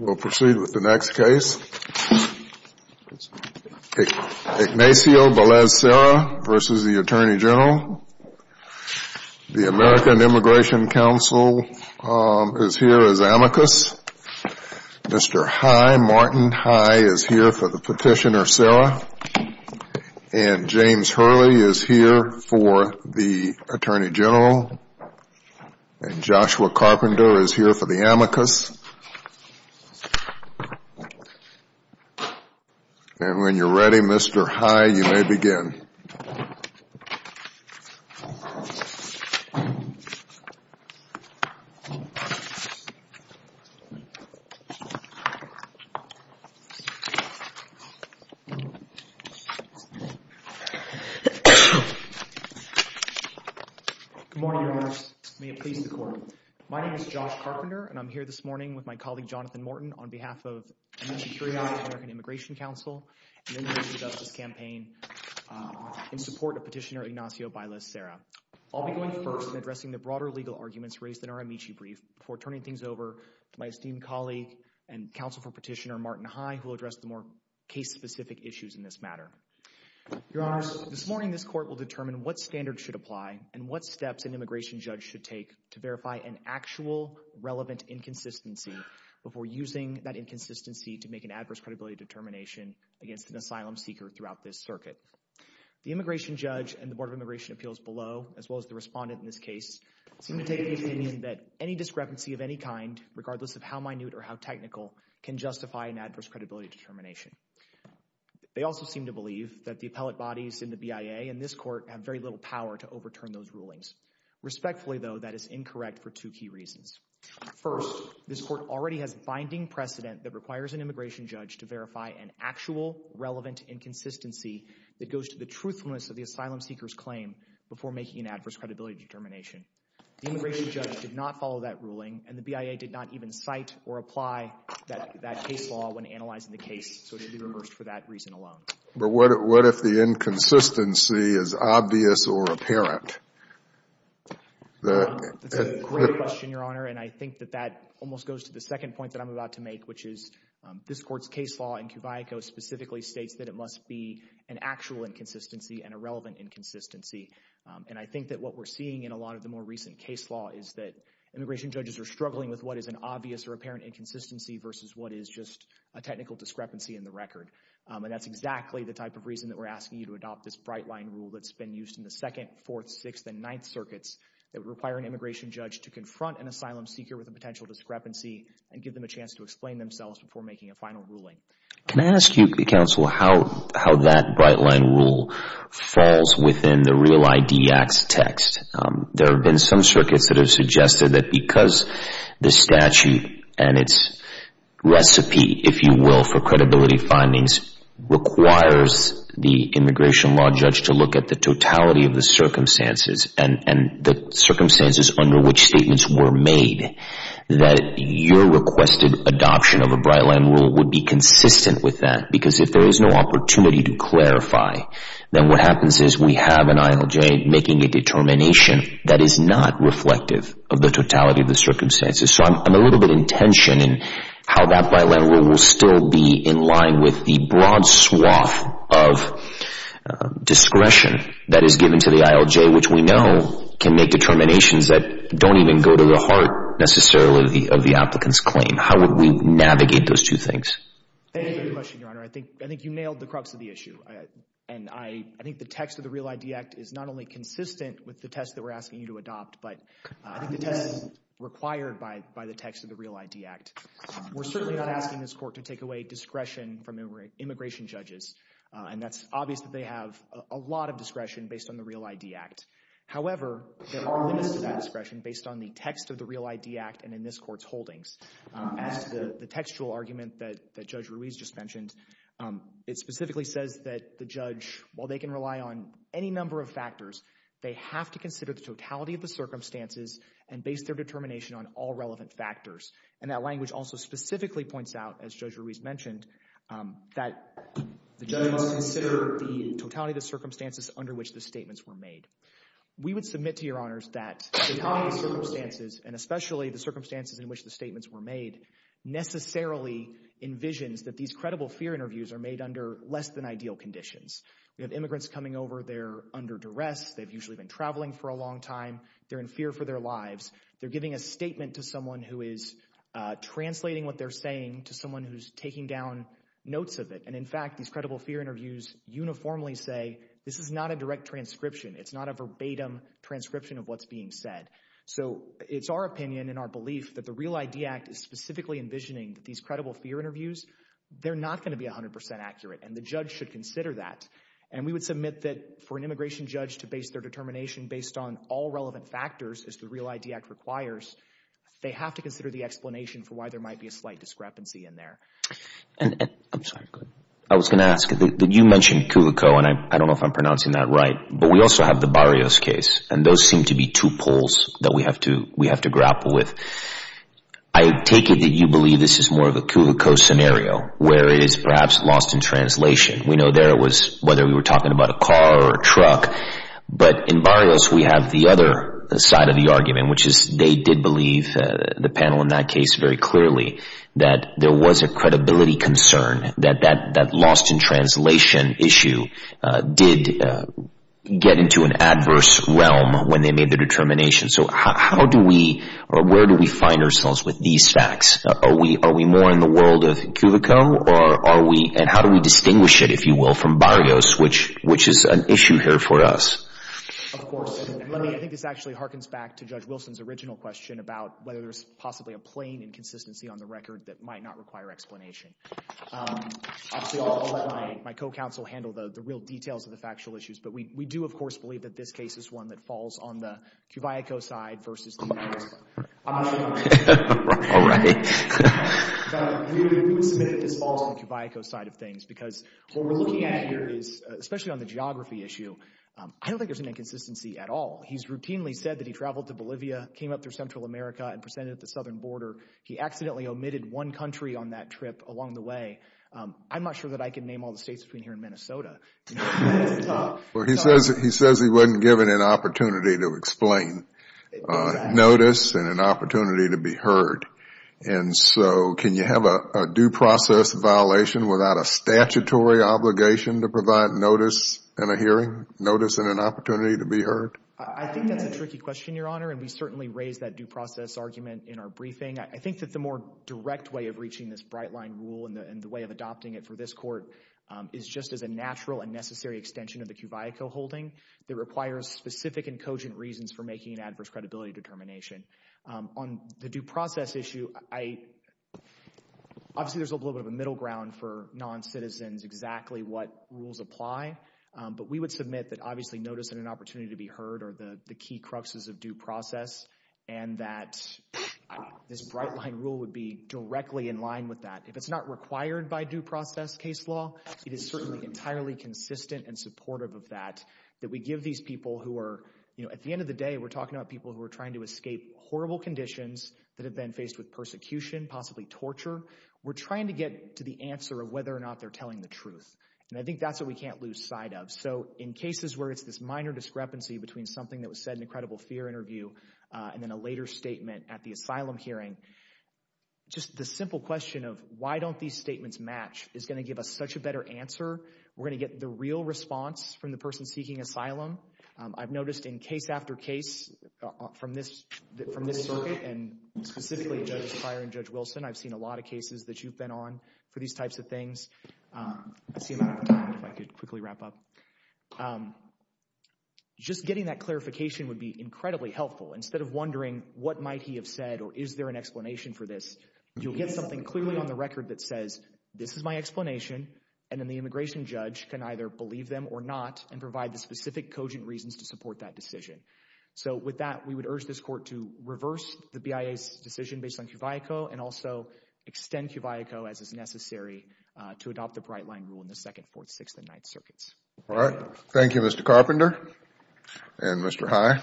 We'll proceed with the next case. Ignacio Balaez Serra v. U.S. Attorney General. The American Immigration Council is here as amicus. Mr. Martin High is here for the petitioner Serra. And James Hurley is here for the Attorney General. And Joshua Carpenter is here for the amicus. And when you're ready, Mr. High, you may begin. Good morning, Your Honors. May it please the Court. My name is Josh Carpenter, and I'm here this morning with my colleague Jonathan Morton on behalf of Amici Curia, the American Immigration Council, and the Immigration Justice Campaign in support of Petitioner Ignacio Balaez Serra. I'll be going first in addressing the broader legal arguments raised in our Amici brief before turning things over to my esteemed colleague and counsel for petitioner Martin High, who will address the more case-specific issues in this matter. Your Honors, this morning this Court will determine what standards should apply and what steps an immigration judge should take to verify an actual relevant inconsistency before using that inconsistency to make an adverse credibility determination against an asylum seeker throughout this circuit. The immigration judge and the Board of Immigration Appeals below, as well as the respondent in any discrepancy of any kind, regardless of how minute or how technical, can justify an adverse credibility determination. They also seem to believe that the appellate bodies in the BIA and this Court have very little power to overturn those rulings. Respectfully, though, that is incorrect for two key reasons. First, this Court already has binding precedent that requires an immigration judge to verify an actual relevant inconsistency that goes to the truthfulness of the asylum seeker's claim before making an adverse credibility determination. The immigration judge did not follow that ruling, and the BIA did not even cite or apply that case law when analyzing the case, so it should be reversed for that reason alone. But what if the inconsistency is obvious or apparent? That's a great question, Your Honor, and I think that that almost goes to the second point that I'm about to make, which is this Court's case law in Cuvayaco specifically states that it must be an actual inconsistency and a relevant inconsistency. And I think that what we're seeing in a lot of the more recent case law is that immigration judges are struggling with what is an obvious or apparent inconsistency versus what is just a technical discrepancy in the record. And that's exactly the type of reason that we're asking you to adopt this bright-line rule that's been used in the Second, Fourth, Sixth and Ninth Circuits that would require an immigration judge to confront an asylum seeker with a potential discrepancy and give them a chance to explain themselves before making a final ruling. Can I ask you, Counsel, how that bright-line rule falls within the Real ID Act's text? There have been some circuits that have suggested that because the statute and its recipe, if you will, for credibility findings requires the immigration law judge to look at the totality of the circumstances and the circumstances under which statements were made, that your requested adoption of a bright-line rule would be consistent with that. Because if there is no opportunity to clarify, then what happens is we have an ILJ making a determination that is not reflective of the totality of the circumstances. So I'm a little bit in tension in how that bright-line rule will still be in line with the broad swath of discretion that is given to the ILJ, which we know can make determinations that don't even go to the heart, necessarily, of the applicant's claim. How would we navigate those two things? Thank you for your question, Your Honor. I think you nailed the crux of the issue. And I think the text of the Real ID Act is not only consistent with the test that we're asking you to adopt, but I think the test is required by the text of the Real ID Act. We're certainly not asking this court to take away discretion from immigration judges. And that's obvious that they have a lot of discretion based on the Real ID Act. However, there are limits to that discretion based on the text of the Real ID Act and in this Court's holdings. As to the textual argument that Judge Ruiz just mentioned, it specifically says that the judge, while they can rely on any number of factors, they have to consider the totality of the circumstances and base their determination on all relevant factors. And that language also specifically points out, as Judge Ruiz mentioned, that the judge must consider the totality of the circumstances under which the statements were made. We would submit to Your Honors that the totality of the circumstances, and especially the circumstances in which the statements were made, necessarily envisions that these credible fear interviews are made under less than ideal conditions. We have immigrants coming over, they're under duress, they've usually been traveling for a long time, they're in fear for their lives, they're giving a statement to someone who is translating what they're saying to someone who's taking down notes of it. And in fact, these credible fear interviews uniformly say this is not a direct transcription, it's not a verbatim transcription of what's being said. So it's our opinion and our belief that the Real ID Act is specifically envisioning that these credible fear interviews, they're not going to be 100% accurate and the judge should consider that. And we would submit that for an immigration judge to base their determination based on all relevant factors, as the Real ID Act requires, they have to consider the explanation for why there might be a slight discrepancy in there. And I'm sorry, I was going to ask, you mentioned Kuvico, and I don't know if I'm pronouncing that right, but we also have the Barrios case, and those seem to be two poles that we have to grapple with. I take it that you believe this is more of a Kuvico scenario, where it is perhaps lost in translation. We know there was, whether we were talking about a car or a truck, but in Barrios we have the other side of the argument, which is they did believe the panel in that case very clearly that there was a credibility concern, that that lost in translation issue did get into an adverse realm when they made the determination. So how do we, or where do we find ourselves with these facts? Are we more in the world of Kuvico, or are we, and how do we distinguish it, if you will, from Barrios, which is an issue here for us? Of course. I think this actually harkens back to Judge Wilson's original question about whether there's possibly a plain inconsistency on the record that might not require explanation. Obviously, I'll let my co-counsel handle the real details of the factual issues, but we do, of course, believe that this case is one that falls on the Kuvico side versus the Barrios side. All right. We would submit that this falls on the Kuvico side of things, because what we're looking at here is, especially on the geography issue, I don't think there's an inconsistency at all. He's routinely said that he traveled to Bolivia, came up through Central America, and presented at the southern border. He accidentally omitted one country on that trip along the way. I'm not sure that I can name all the states between here and Minnesota. He says he wasn't given an opportunity to explain. Notice and an opportunity to be heard. And so can you have a due process violation without a statutory obligation to provide a notice and a hearing, notice and an opportunity to be heard? I think that's a tricky question, Your Honor, and we certainly raised that due process argument in our briefing. I think that the more direct way of reaching this bright-line rule and the way of adopting it for this court is just as a natural and necessary extension of the Kuvico holding that requires specific and cogent reasons for making an adverse credibility determination. On the due process issue, obviously, there's a little bit of a middle ground for non-citizens exactly what rules apply, but we would submit that obviously notice and an opportunity to be heard are the key cruxes of due process and that this bright-line rule would be directly in line with that. If it's not required by due process case law, it is certainly entirely consistent and supportive of that, that we give these people who are, you know, at the end of the day, we're talking about people who are trying to escape horrible conditions that have been faced with persecution, possibly torture. We're trying to get to the answer of whether or not they're telling the truth, and I think that's what we can't lose sight of. So, in cases where it's this minor discrepancy between something that was said in the credible fear interview and then a later statement at the asylum hearing, just the simple question of why don't these statements match is going to give us such a better answer. We're going to get the real response from the person seeking asylum. I've noticed in case after case from this circuit, and specifically Judges Pryor and Judge Wilson, I've seen a lot of cases that you've been on for these types of things. I see I'm out of time, if I could quickly wrap up. Just getting that clarification would be incredibly helpful. Instead of wondering what might he have said or is there an explanation for this, you'll get something clearly on the record that says, this is my explanation, and then the immigration judge can either believe them or not, and provide the specific cogent reasons to support that decision. So, with that, we would urge this court to reverse the BIA's decision based on QVAICO and also extend QVAICO as is necessary to adopt the Bright Line Rule in the 2nd, 4th, 6th, and 9th circuits. All right. Thank you, Mr. Carpenter. And Mr. High.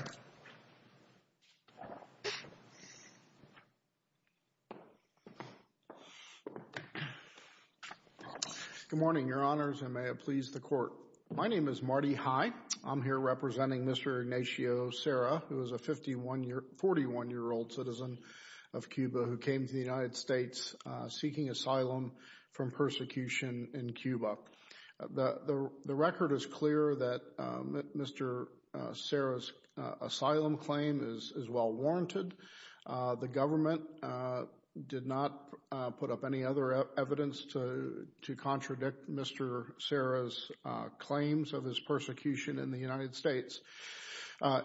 Good morning, Your Honors, and may it please the Court. My name is Marty High. I'm here representing Mr. Ignacio Serra, who is a 41-year-old citizen of Cuba who came to the United States seeking asylum from persecution in Cuba. The record is clear that Mr. Serra's asylum claim is well warranted. The government did not put up any other evidence to contradict Mr. Serra's claims of his persecution in the United States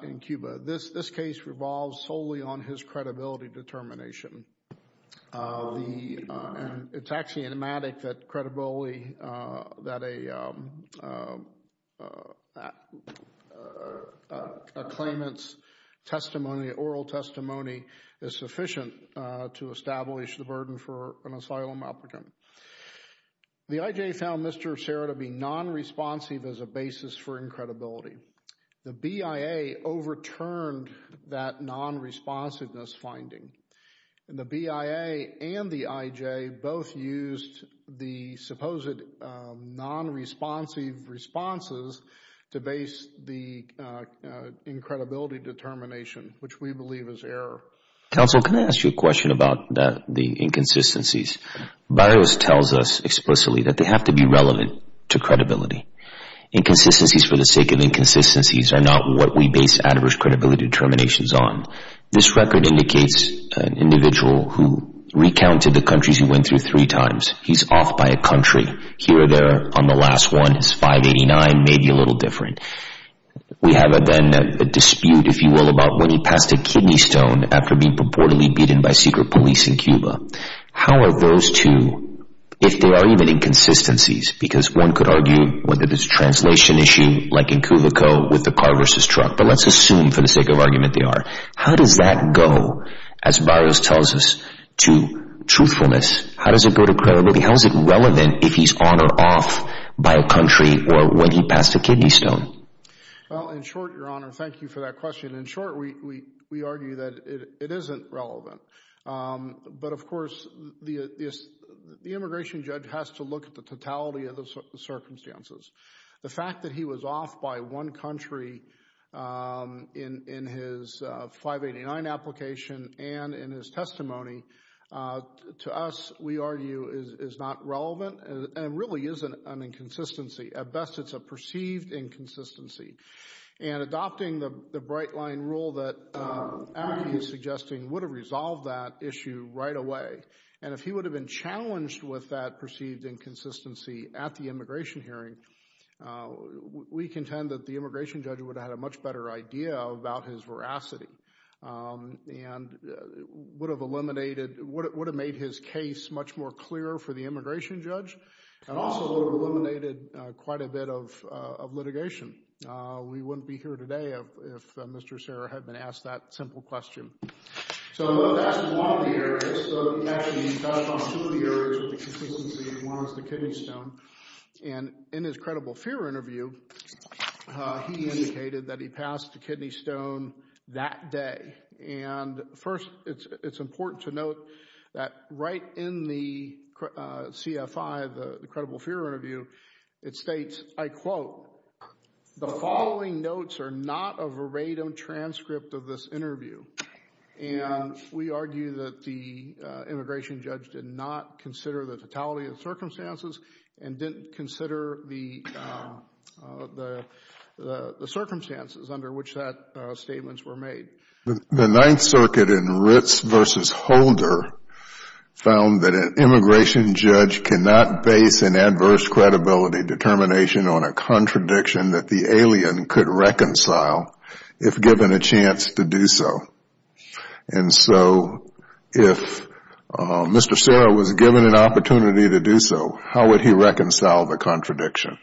in Cuba. This case revolves solely on his credibility determination. It's actually enigmatic that a claimant's oral testimony is sufficient to establish the burden for an asylum applicant. The IJA found Mr. Serra to be non-responsive as a basis for incredibility. The BIA overturned that non-responsiveness finding. The BIA and the IJA both used the supposed non-responsive responses to base the incredibility determination, which we believe is error. Counsel, can I ask you a question about the inconsistencies? BIOS tells us explicitly that they have to be relevant to credibility. Inconsistencies for the sake of inconsistencies are not what we base adverse credibility determinations on. This record indicates an individual who recounted the countries he went through three times. He's off by a country here or there on the last one. It's 589, maybe a little different. We have then a dispute, if you will, about when he passed a kidney stone after being purportedly beaten by secret police in Cuba. How are those two, if they are even inconsistencies, because one could argue whether it's a translation issue like in Cuba Co. with the car versus truck, but let's assume for the sake of argument they are. How does that go, as BIOS tells us, to truthfulness? How does it go to credibility? How is it relevant if he's on or off by a country or when he passed a kidney stone? Well, in short, Your Honor, thank you for that question. In short, we argue that it isn't relevant. But of course, the immigration judge has to look at the totality of the circumstances. The fact that he was off by one country in his 589 application and in his testimony, to us, we argue, is not relevant and really is an inconsistency. At best, it's a perceived inconsistency. And adopting the bright-line rule that Abby is suggesting would have resolved that issue right away. And if he would have been challenged with that perceived inconsistency at the immigration hearing, we contend that the immigration judge would have had a much better idea about his veracity and would have eliminated, would have made his case much more clear for the immigration judge and also eliminated quite a bit of litigation. We wouldn't be here today if Mr. Serra had been asked that simple question. So that's one of the areas. So he actually touched on two of the areas of inconsistency. One is the kidney stone. And in his credible fear interview, he indicated that he passed the kidney stone that day. And first, it's important to note that right in the CFI, the credible fear interview, it states, I quote, the following notes are not a verado transcript of this interview. And we argue that the immigration judge did not consider the totality of circumstances and didn't consider the circumstances under which that statements were made. The Ninth Circuit in Ritz v. Holder found that an immigration judge cannot base an adverse experience on the facts to do so. And so if Mr. Serra was given an opportunity to do so, how would he reconcile the contradiction?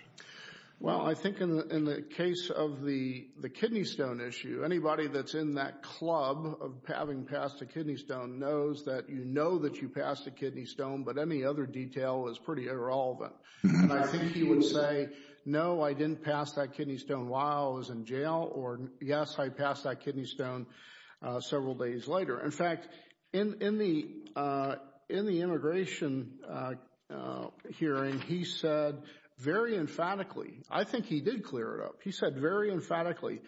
Well, I think in the case of the kidney stone issue, anybody that's in that club of having passed a kidney stone knows that you know that you passed a kidney stone, but any other detail is pretty irrelevant. And I think he would say, no, I didn't pass that kidney stone while I was in jail, or yes, I passed that kidney stone several days later. In fact, in the immigration hearing, he said very emphatically, I think he did clear it up, he said very emphatically,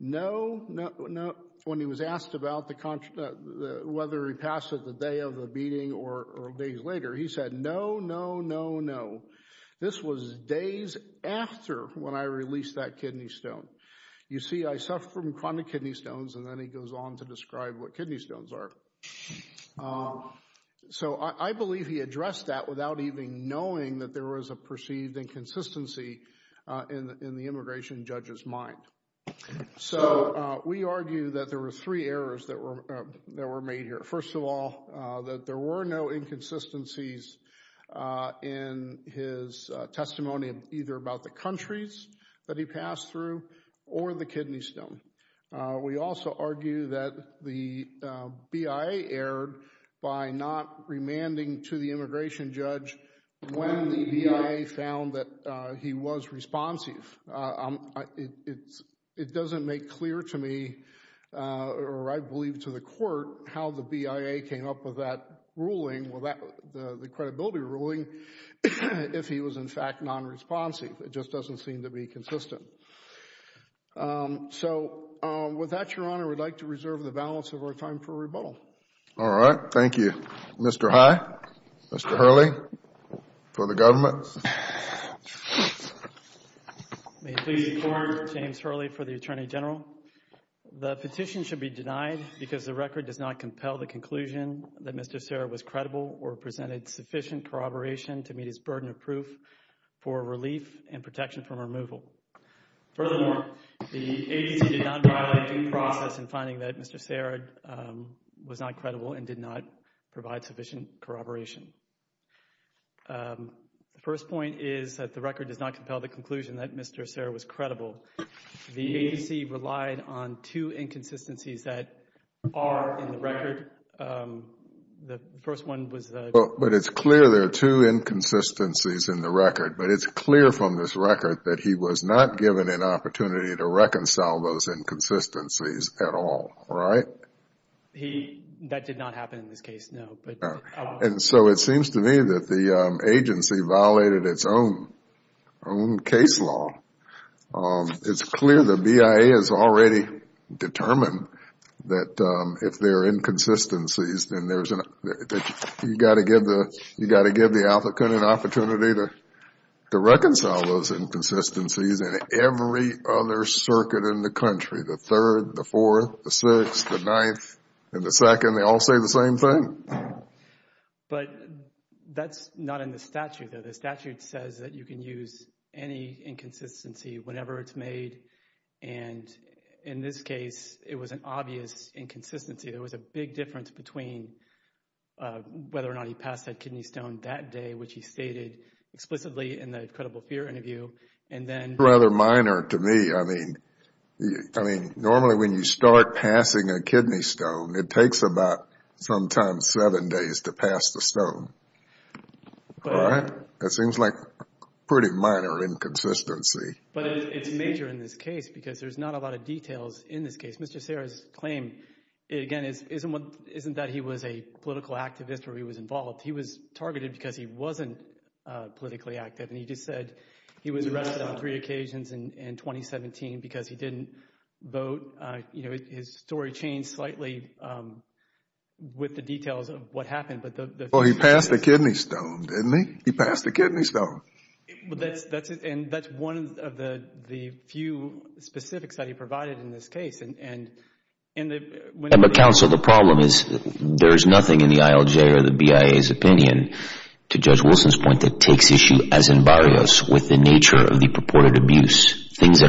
no, when he was asked about whether he passed it the day of the meeting or days later, he said, no, this was days after when I released that kidney stone. You see, I suffer from chronic kidney stones, and then he goes on to describe what kidney stones are. So I believe he addressed that without even knowing that there was a perceived inconsistency in the immigration judge's mind. So we argue that there were three errors that were made here. First of all, that there were no inconsistencies in his testimony, either about the countries that he passed through, or the kidney stone. We also argue that the BIA erred by not remanding to the immigration judge when the BIA found that he was responsive. It doesn't make clear to me, or I believe to the Court, how the BIA came up with that ruling, the credibility ruling, if he was in fact nonresponsive. It just doesn't seem to be consistent. So with that, Your Honor, I would like to reserve the balance of our time for rebuttal. All right. Thank you. Mr. High, Mr. Hurley, for the government. May it please the Court, James Hurley for the Attorney General. The petition should be denied because the record does not compel the conclusion that Mr. Serra was credible or presented sufficient corroboration to meet his burden of proof for relief and protection from removal. Furthermore, the agency did not violate due process in finding that Mr. Serra was not credible and did not provide sufficient corroboration. The first point is that the record does not compel the conclusion that Mr. Serra was credible. The agency relied on two inconsistencies that are in the record. The first one was... But it's clear there are two inconsistencies in the record. But it's clear from this record that he was not given an opportunity to reconcile those inconsistencies at all, right? That did not happen in this case, no. And so it seems to me that the agency violated its own case law. It's clear the BIA has already determined that if there are inconsistencies, then you've got to give the applicant an opportunity to reconcile those inconsistencies in every other circuit in the country. The third, the third one is that he was not given an opportunity to reconcile. But that's not in the statute, though. The statute says that you can use any inconsistency whenever it's made. And in this case, it was an obvious inconsistency. There was a big difference between whether or not he passed that kidney stone that day, which he stated explicitly in the credible fear interview, and then... Rather minor to me. I mean, normally when you start passing a kidney stone, it takes about sometimes seven days to pass the stone. That seems like a pretty minor inconsistency. But it's major in this case because there's not a lot of details in this case. Mr. Serra's claim, again, isn't that he was a political activist or he was involved. He was targeted because he wasn't politically active. And he just said he was arrested on three occasions in 2017 because he didn't vote. You know, his story changed slightly with the details of what happened. Well, he passed the kidney stone, didn't he? He passed the kidney stone. And that's one of the few specifics that he provided in this case. And the counsel, the problem is there's nothing in the ILJ or the BIA's opinion, to Judge that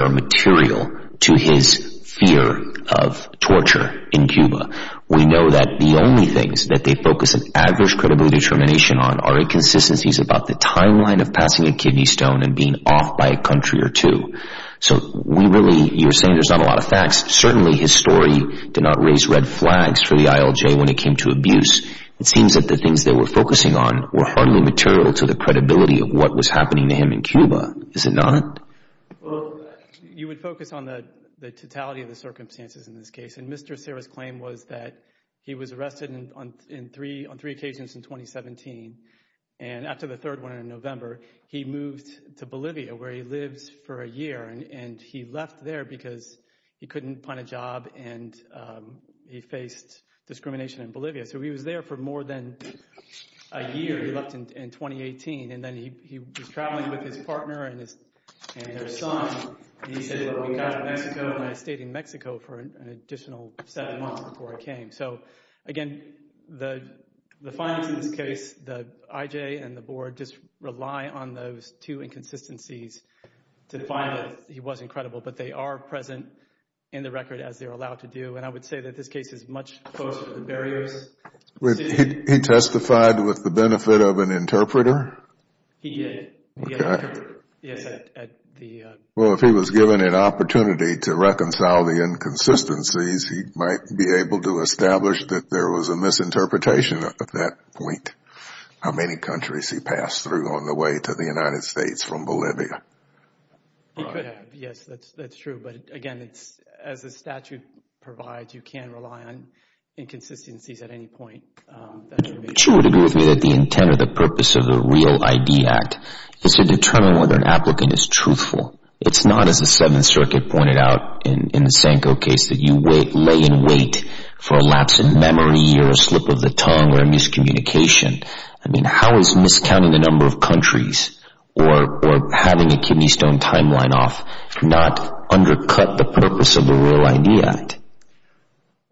are material to his fear of torture in Cuba. We know that the only things that they focus an adverse credible determination on are inconsistencies about the timeline of passing a kidney stone and being off by a country or two. So we really, you're saying there's not a lot of facts. Certainly his story did not raise red flags for the ILJ when it came to abuse. It seems that the things that we're focusing on were hardly material to the credibility of what was happening to him in Cuba. Is it not? Well, you would focus on the totality of the circumstances in this case. And Mr. Serra's claim was that he was arrested on three occasions in 2017. And after the third one in November, he moved to Bolivia where he lived for a year. And he left there because he couldn't find a job and he faced discrimination in Bolivia. So he was there for more than a year. He left in 2018 and then he was traveling with his partner and their son. And he said, we got to Mexico and I stayed in Mexico for an additional seven months before I came. So again, the findings in this case, the IJ and the board just rely on those two inconsistencies to find that he was incredible. But they are present in the record as they're allowed to do. And I would say that this case is much closer to the barriers. He testified with the benefit of an interpreter? He did. Well, if he was given an opportunity to reconcile the inconsistencies, he might be able to establish that there was a misinterpretation at that point. How many countries he passed through on the way to the United States from Bolivia. Yes, that's true. But again, as the statute provides, you can rely on inconsistencies at any point. But you would agree with me that the intent or the purpose of the REAL ID Act is to determine whether an applicant is truthful. It's not, as the Seventh Circuit pointed out in the Sanko case, that you lay in wait for a lapse in memory or a slip of the tongue or a miscommunication. I mean, how is miscounting the number of countries or having a kidney stone timeline off not undercut the purpose of the REAL ID Act?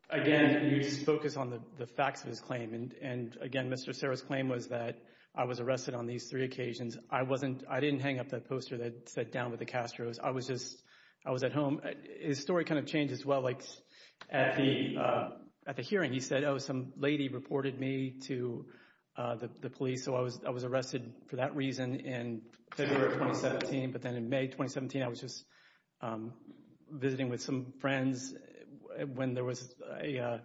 Again, you just focus on the facts of his claim. And again, Mr. Serra's claim was that I was arrested on these three occasions. I wasn't, I didn't hang up that poster that said, down with the Castro's. I was just, I was at home. His story kind of changed as well. Like at the hearing, he said, oh, some lady reported me to the police. So I was arrested for that reason in February of 2017. But then in May 2017, I was just visiting with some friends when there was a,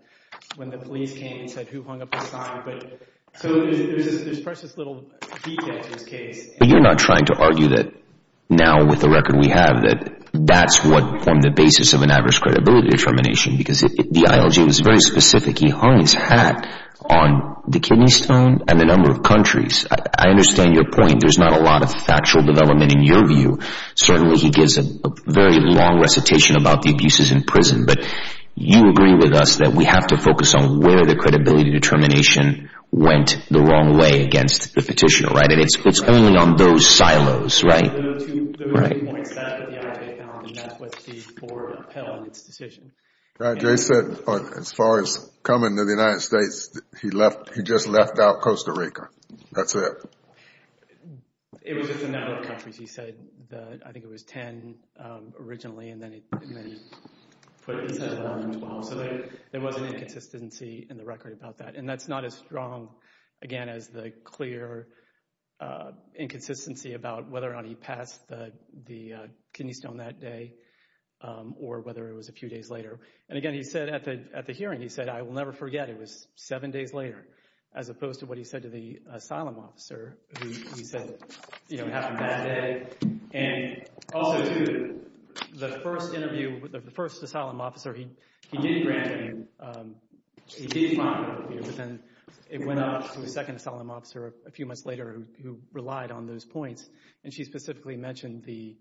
when the police came and said who hung up the sign. But so there's this precious little detach in this case. But you're not trying to argue that now with the record we have that that's what formed the basis of an average credibility determination because the ILJ was very specific. He hung his hat on the kidney stone and the number of countries. I understand your point. There's not a lot of factual development in your view. Certainly he gives a very long recitation about the abuses in prison. But you agree with us that we have to focus on where the credibility determination went the wrong way against the petitioner, right? And it's only on those silos, right? There were two points. That was the ILJ found and that was the poor appeal in its decision. Jay said as far as coming to the United States, he left, he just left out Costa Rica. That's it. It was just a matter of countries. He said that I think it was 10 originally and then he said it was 12. So there was an inconsistency in the record about that. And that's not as strong again as the clear inconsistency about whether or not he passed the kidney stone that day or whether it was a few days later. And again, he said at the hearing, he said I will never forget it was seven days later as opposed to what he said to the asylum officer who said, you know, it happened that day. And also, too, the first interview, the first asylum officer, he did grant him, he did find an appeal, but then it went up to a second asylum officer a few months later who relied on those points. And she specifically mentioned the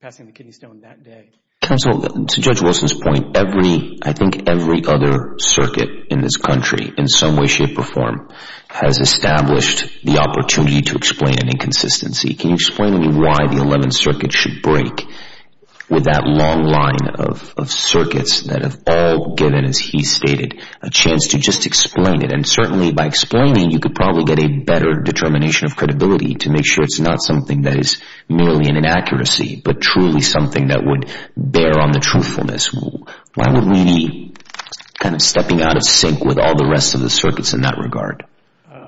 passing the kidney stone that day. Counsel, to Judge Wilson's point, every, I think every other circuit in this country in some way, shape or form has established the opportunity to explain an inconsistency. Can you explain to me why the 11th Circuit should break with that long line of circuits that have all given, as he stated, a chance to just explain it? And certainly by explaining it, you could probably get a better determination of credibility to make sure it's not something that is merely an inaccuracy, but truly something that would bear on the truthfulness. Why would we be kind of stepping out of sync with all the rest of the circuits in that regard?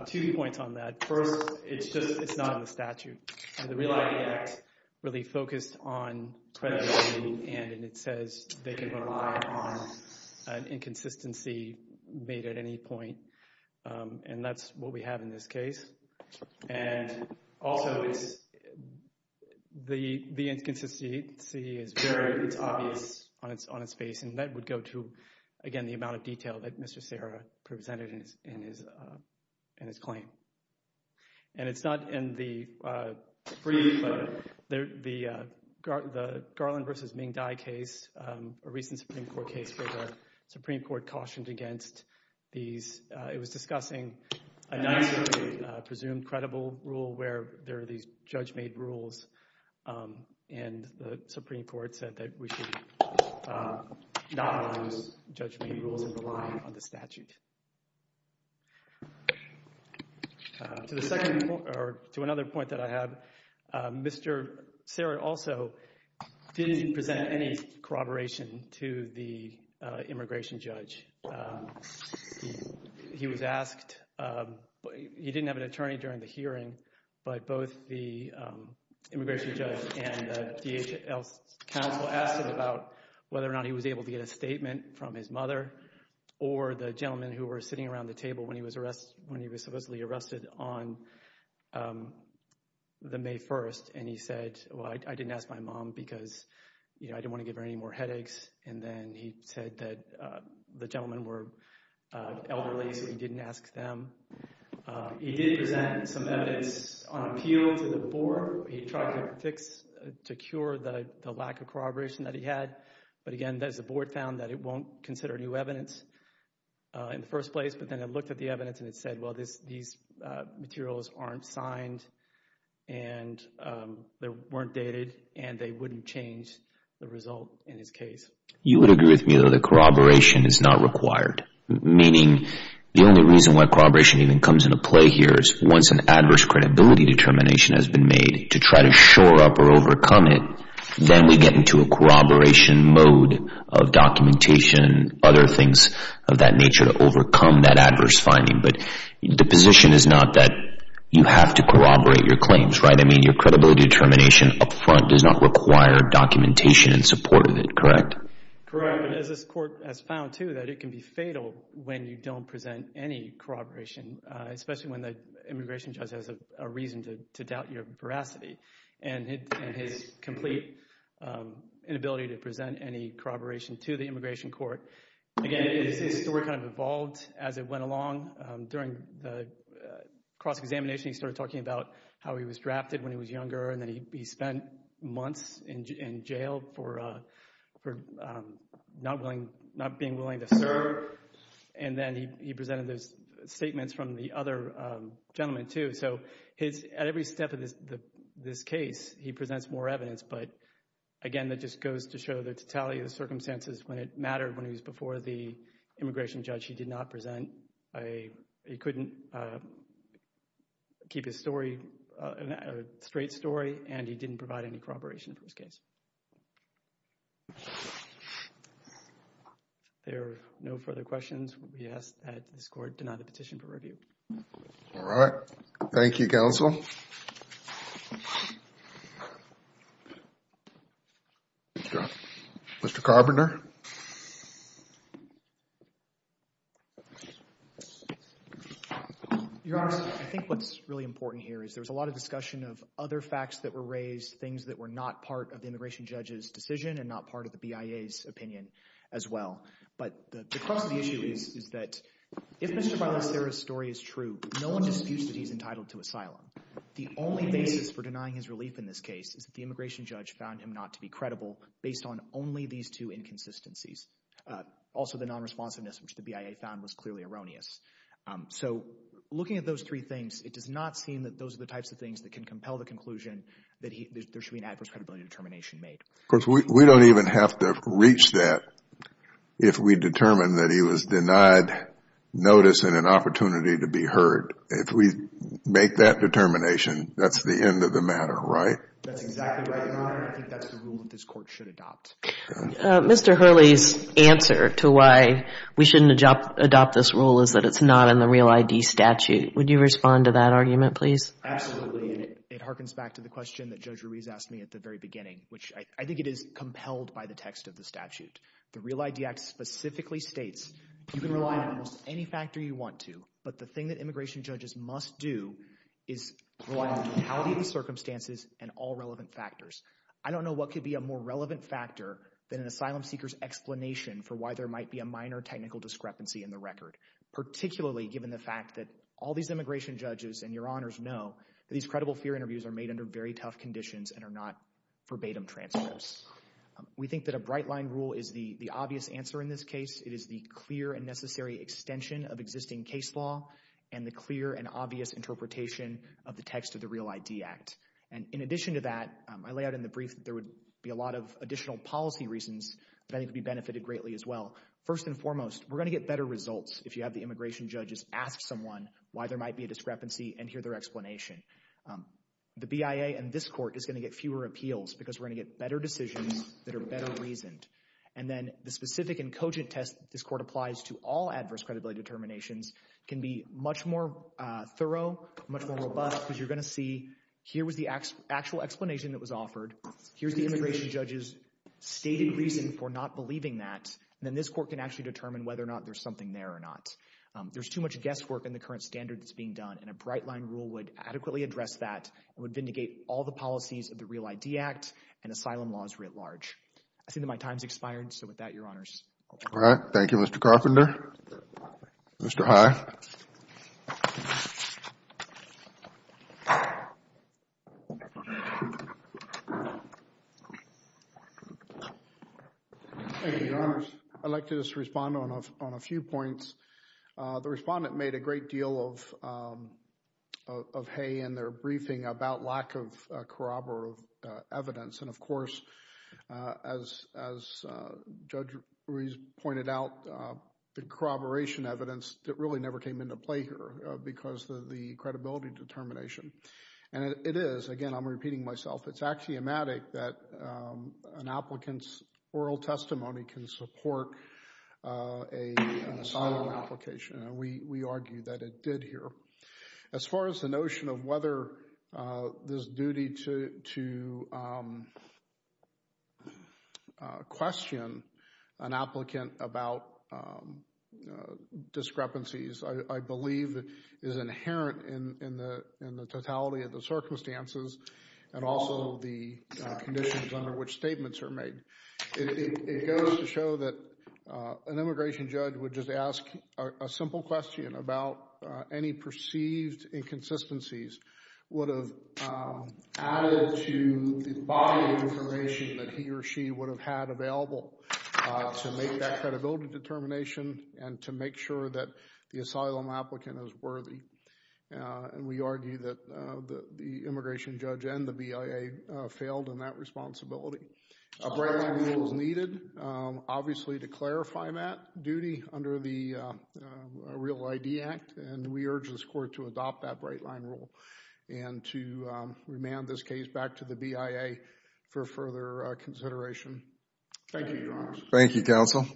Two points on that. First, it's just, it's not in the statute. The Relying Act really focused on credibility and it says they can rely on an inconsistency made at any point. And that's what we have in this case. And also, it's, the inconsistency is very, it's going to go to, again, the amount of detail that Mr. Serra presented in his claim. And it's not in the, the Garland v. Ming Dai case, a recent Supreme Court case where the Supreme Court cautioned against these, it was discussing a 9th Circuit presumed credible rule where there are these judge-made rules and the Supreme Court said that we should not allow those judge-made rules to rely on the statute. To the second point, or to another point that I have, Mr. Serra also didn't present any corroboration to the immigration judge. He was asked, he didn't have an attorney during the hearing, but both the immigration judge and the DHL counsel asked him about whether or not he was able to get a statement from his mother or the gentleman who was sitting around the table when he was arrested, when he was supposedly arrested on the May 1st. And he said, well, I didn't ask my mom because you know, I didn't want to give her any more headaches. And then he said that the gentlemen were elderly, so he didn't ask them. He did present some evidence on appeal to the board. He tried to fix, to cure the lack of corroboration that he had. But again, as the board found that it won't consider new evidence in the first place, but then it looked at the evidence and it said, well, these materials aren't signed and they weren't dated and they wouldn't change the result in his case. You would agree with me though that corroboration is not required, meaning the only reason why corroboration even comes into play here is once an adverse credibility determination has been made to try to shore up or overcome it, then we get into a corroboration mode of documentation, other things of that nature to overcome that adverse finding. But the position is not that you have to corroborate your claims, right? I mean, your credibility determination up front does not require documentation in support of it, correct? Correct. But as this court has found too, that it can be fatal when you don't present any corroboration, especially when the immigration judge has a reason to doubt your veracity and his complete inability to present any corroboration to the immigration court. Again, his story kind of evolved as it went along. During the cross-examination, he started talking about how he was drafted when he was younger and that he spent months in jail for not being willing to serve. And then he presented those statements from the other gentleman too. So at every step of this case, he presents more evidence. But again, that just goes to show the totality of the circumstances when it mattered when he was before the immigration judge, he did not present a, he couldn't keep his story, a straight story and he didn't provide any corroboration for his case. If there are no further questions, we ask that this court deny the petition for review. All right. Thank you, counsel. Mr. Carpenter. Your Honor, I think what's really important here is there was a lot of discussion of other facts that were raised, things that were not part of the immigration judge's decision and not part of the BIA's opinion as well. But the crux of the issue is, is that if Mr. Bailão says Sarah's story is true, no one disputes that he's entitled to asylum. The only basis for denying his relief in this case is that the immigration judge found him not to be credible based on only these two inconsistencies. Also, the non-responsiveness, which the BIA found was clearly erroneous. So looking at those three things, it does not seem that those are the types of things that can compel the conclusion that there should be an adverse credibility determination made. Of course, we don't even have to reach that if we determine that he was denied notice and an opportunity to be heard. If we make that determination, that's the end of the matter, right? That's exactly right, Your Honor. I think that's the rule that this Court should adopt. Mr. Hurley's answer to why we shouldn't adopt this rule is that it's not in the REAL ID statute. Would you respond to that argument, please? Absolutely. And it harkens back to the question that Judge Ruiz asked me at the very beginning, which I think it is compelled by the text of the statute. The REAL ID Act specifically states you can rely on almost any factor you want to, but the thing that immigration judges must do is rely on the totality of the circumstances and all relevant factors. I don't know what could be a more relevant factor than an asylum seeker's explanation for why there might be a minor technical discrepancy in the record, particularly given the fact that all these immigration judges and Your Honors know that these credible fear interviews are made under very tough conditions and are not verbatim transfers. We think that a bright line rule is the obvious answer in this case. It is the clear and necessary extension of existing case law and the clear and obvious interpretation of the text of the REAL ID Act. And in addition to that, I lay out in the brief that there would be a lot of additional policy reasons that I think would be benefited greatly as well. First and foremost, we're going to get better results if you have the immigration judges ask someone why there might be a discrepancy and hear their explanation. The BIA and this court applies to all adverse credibility determinations. It can be much more thorough, much more robust because you're going to see here was the actual explanation that was offered. Here's the immigration judges stated reason for not believing that. And then this court can actually determine whether or not there's something there or not. There's too much guesswork in the current standard that's being done and a bright line rule would adequately address that and would vindicate all the policies of the REAL ID Act. and asylum laws writ large. I see that my time's expired. So with that, Your Honors. All right. Thank you, Mr. Carpenter. Mr. High. I'd like to just respond on a few points. The respondent made a great deal of hay in their briefing about lack of corroborative evidence. And of course, as Judge Ruiz pointed out, the corroboration evidence really never came into play here because of the credibility determination. And it is, again, I'm repeating myself, it's axiomatic that an applicant's oral testimony can support an asylum application. We argue that it did here. As far as the notion of whether this duty to question an applicant about discrepancies, I believe is inherent in the totality of the circumstances and also the conditions under which statements are made. It goes to show that an immigration judge would just ask a perceived inconsistencies would have added to the body of information that he or she would have had available to make that credibility determination and to make sure that the asylum applicant is worthy. And we argue that the immigration judge and the BIA failed in that responsibility. A brand new rule is needed, obviously, to clarify that duty under the Real ID Act, and we urge this court to adopt that bright line rule and to remand this case back to the BIA for further consideration. Thank you, Your Honor. Thank you, counsel.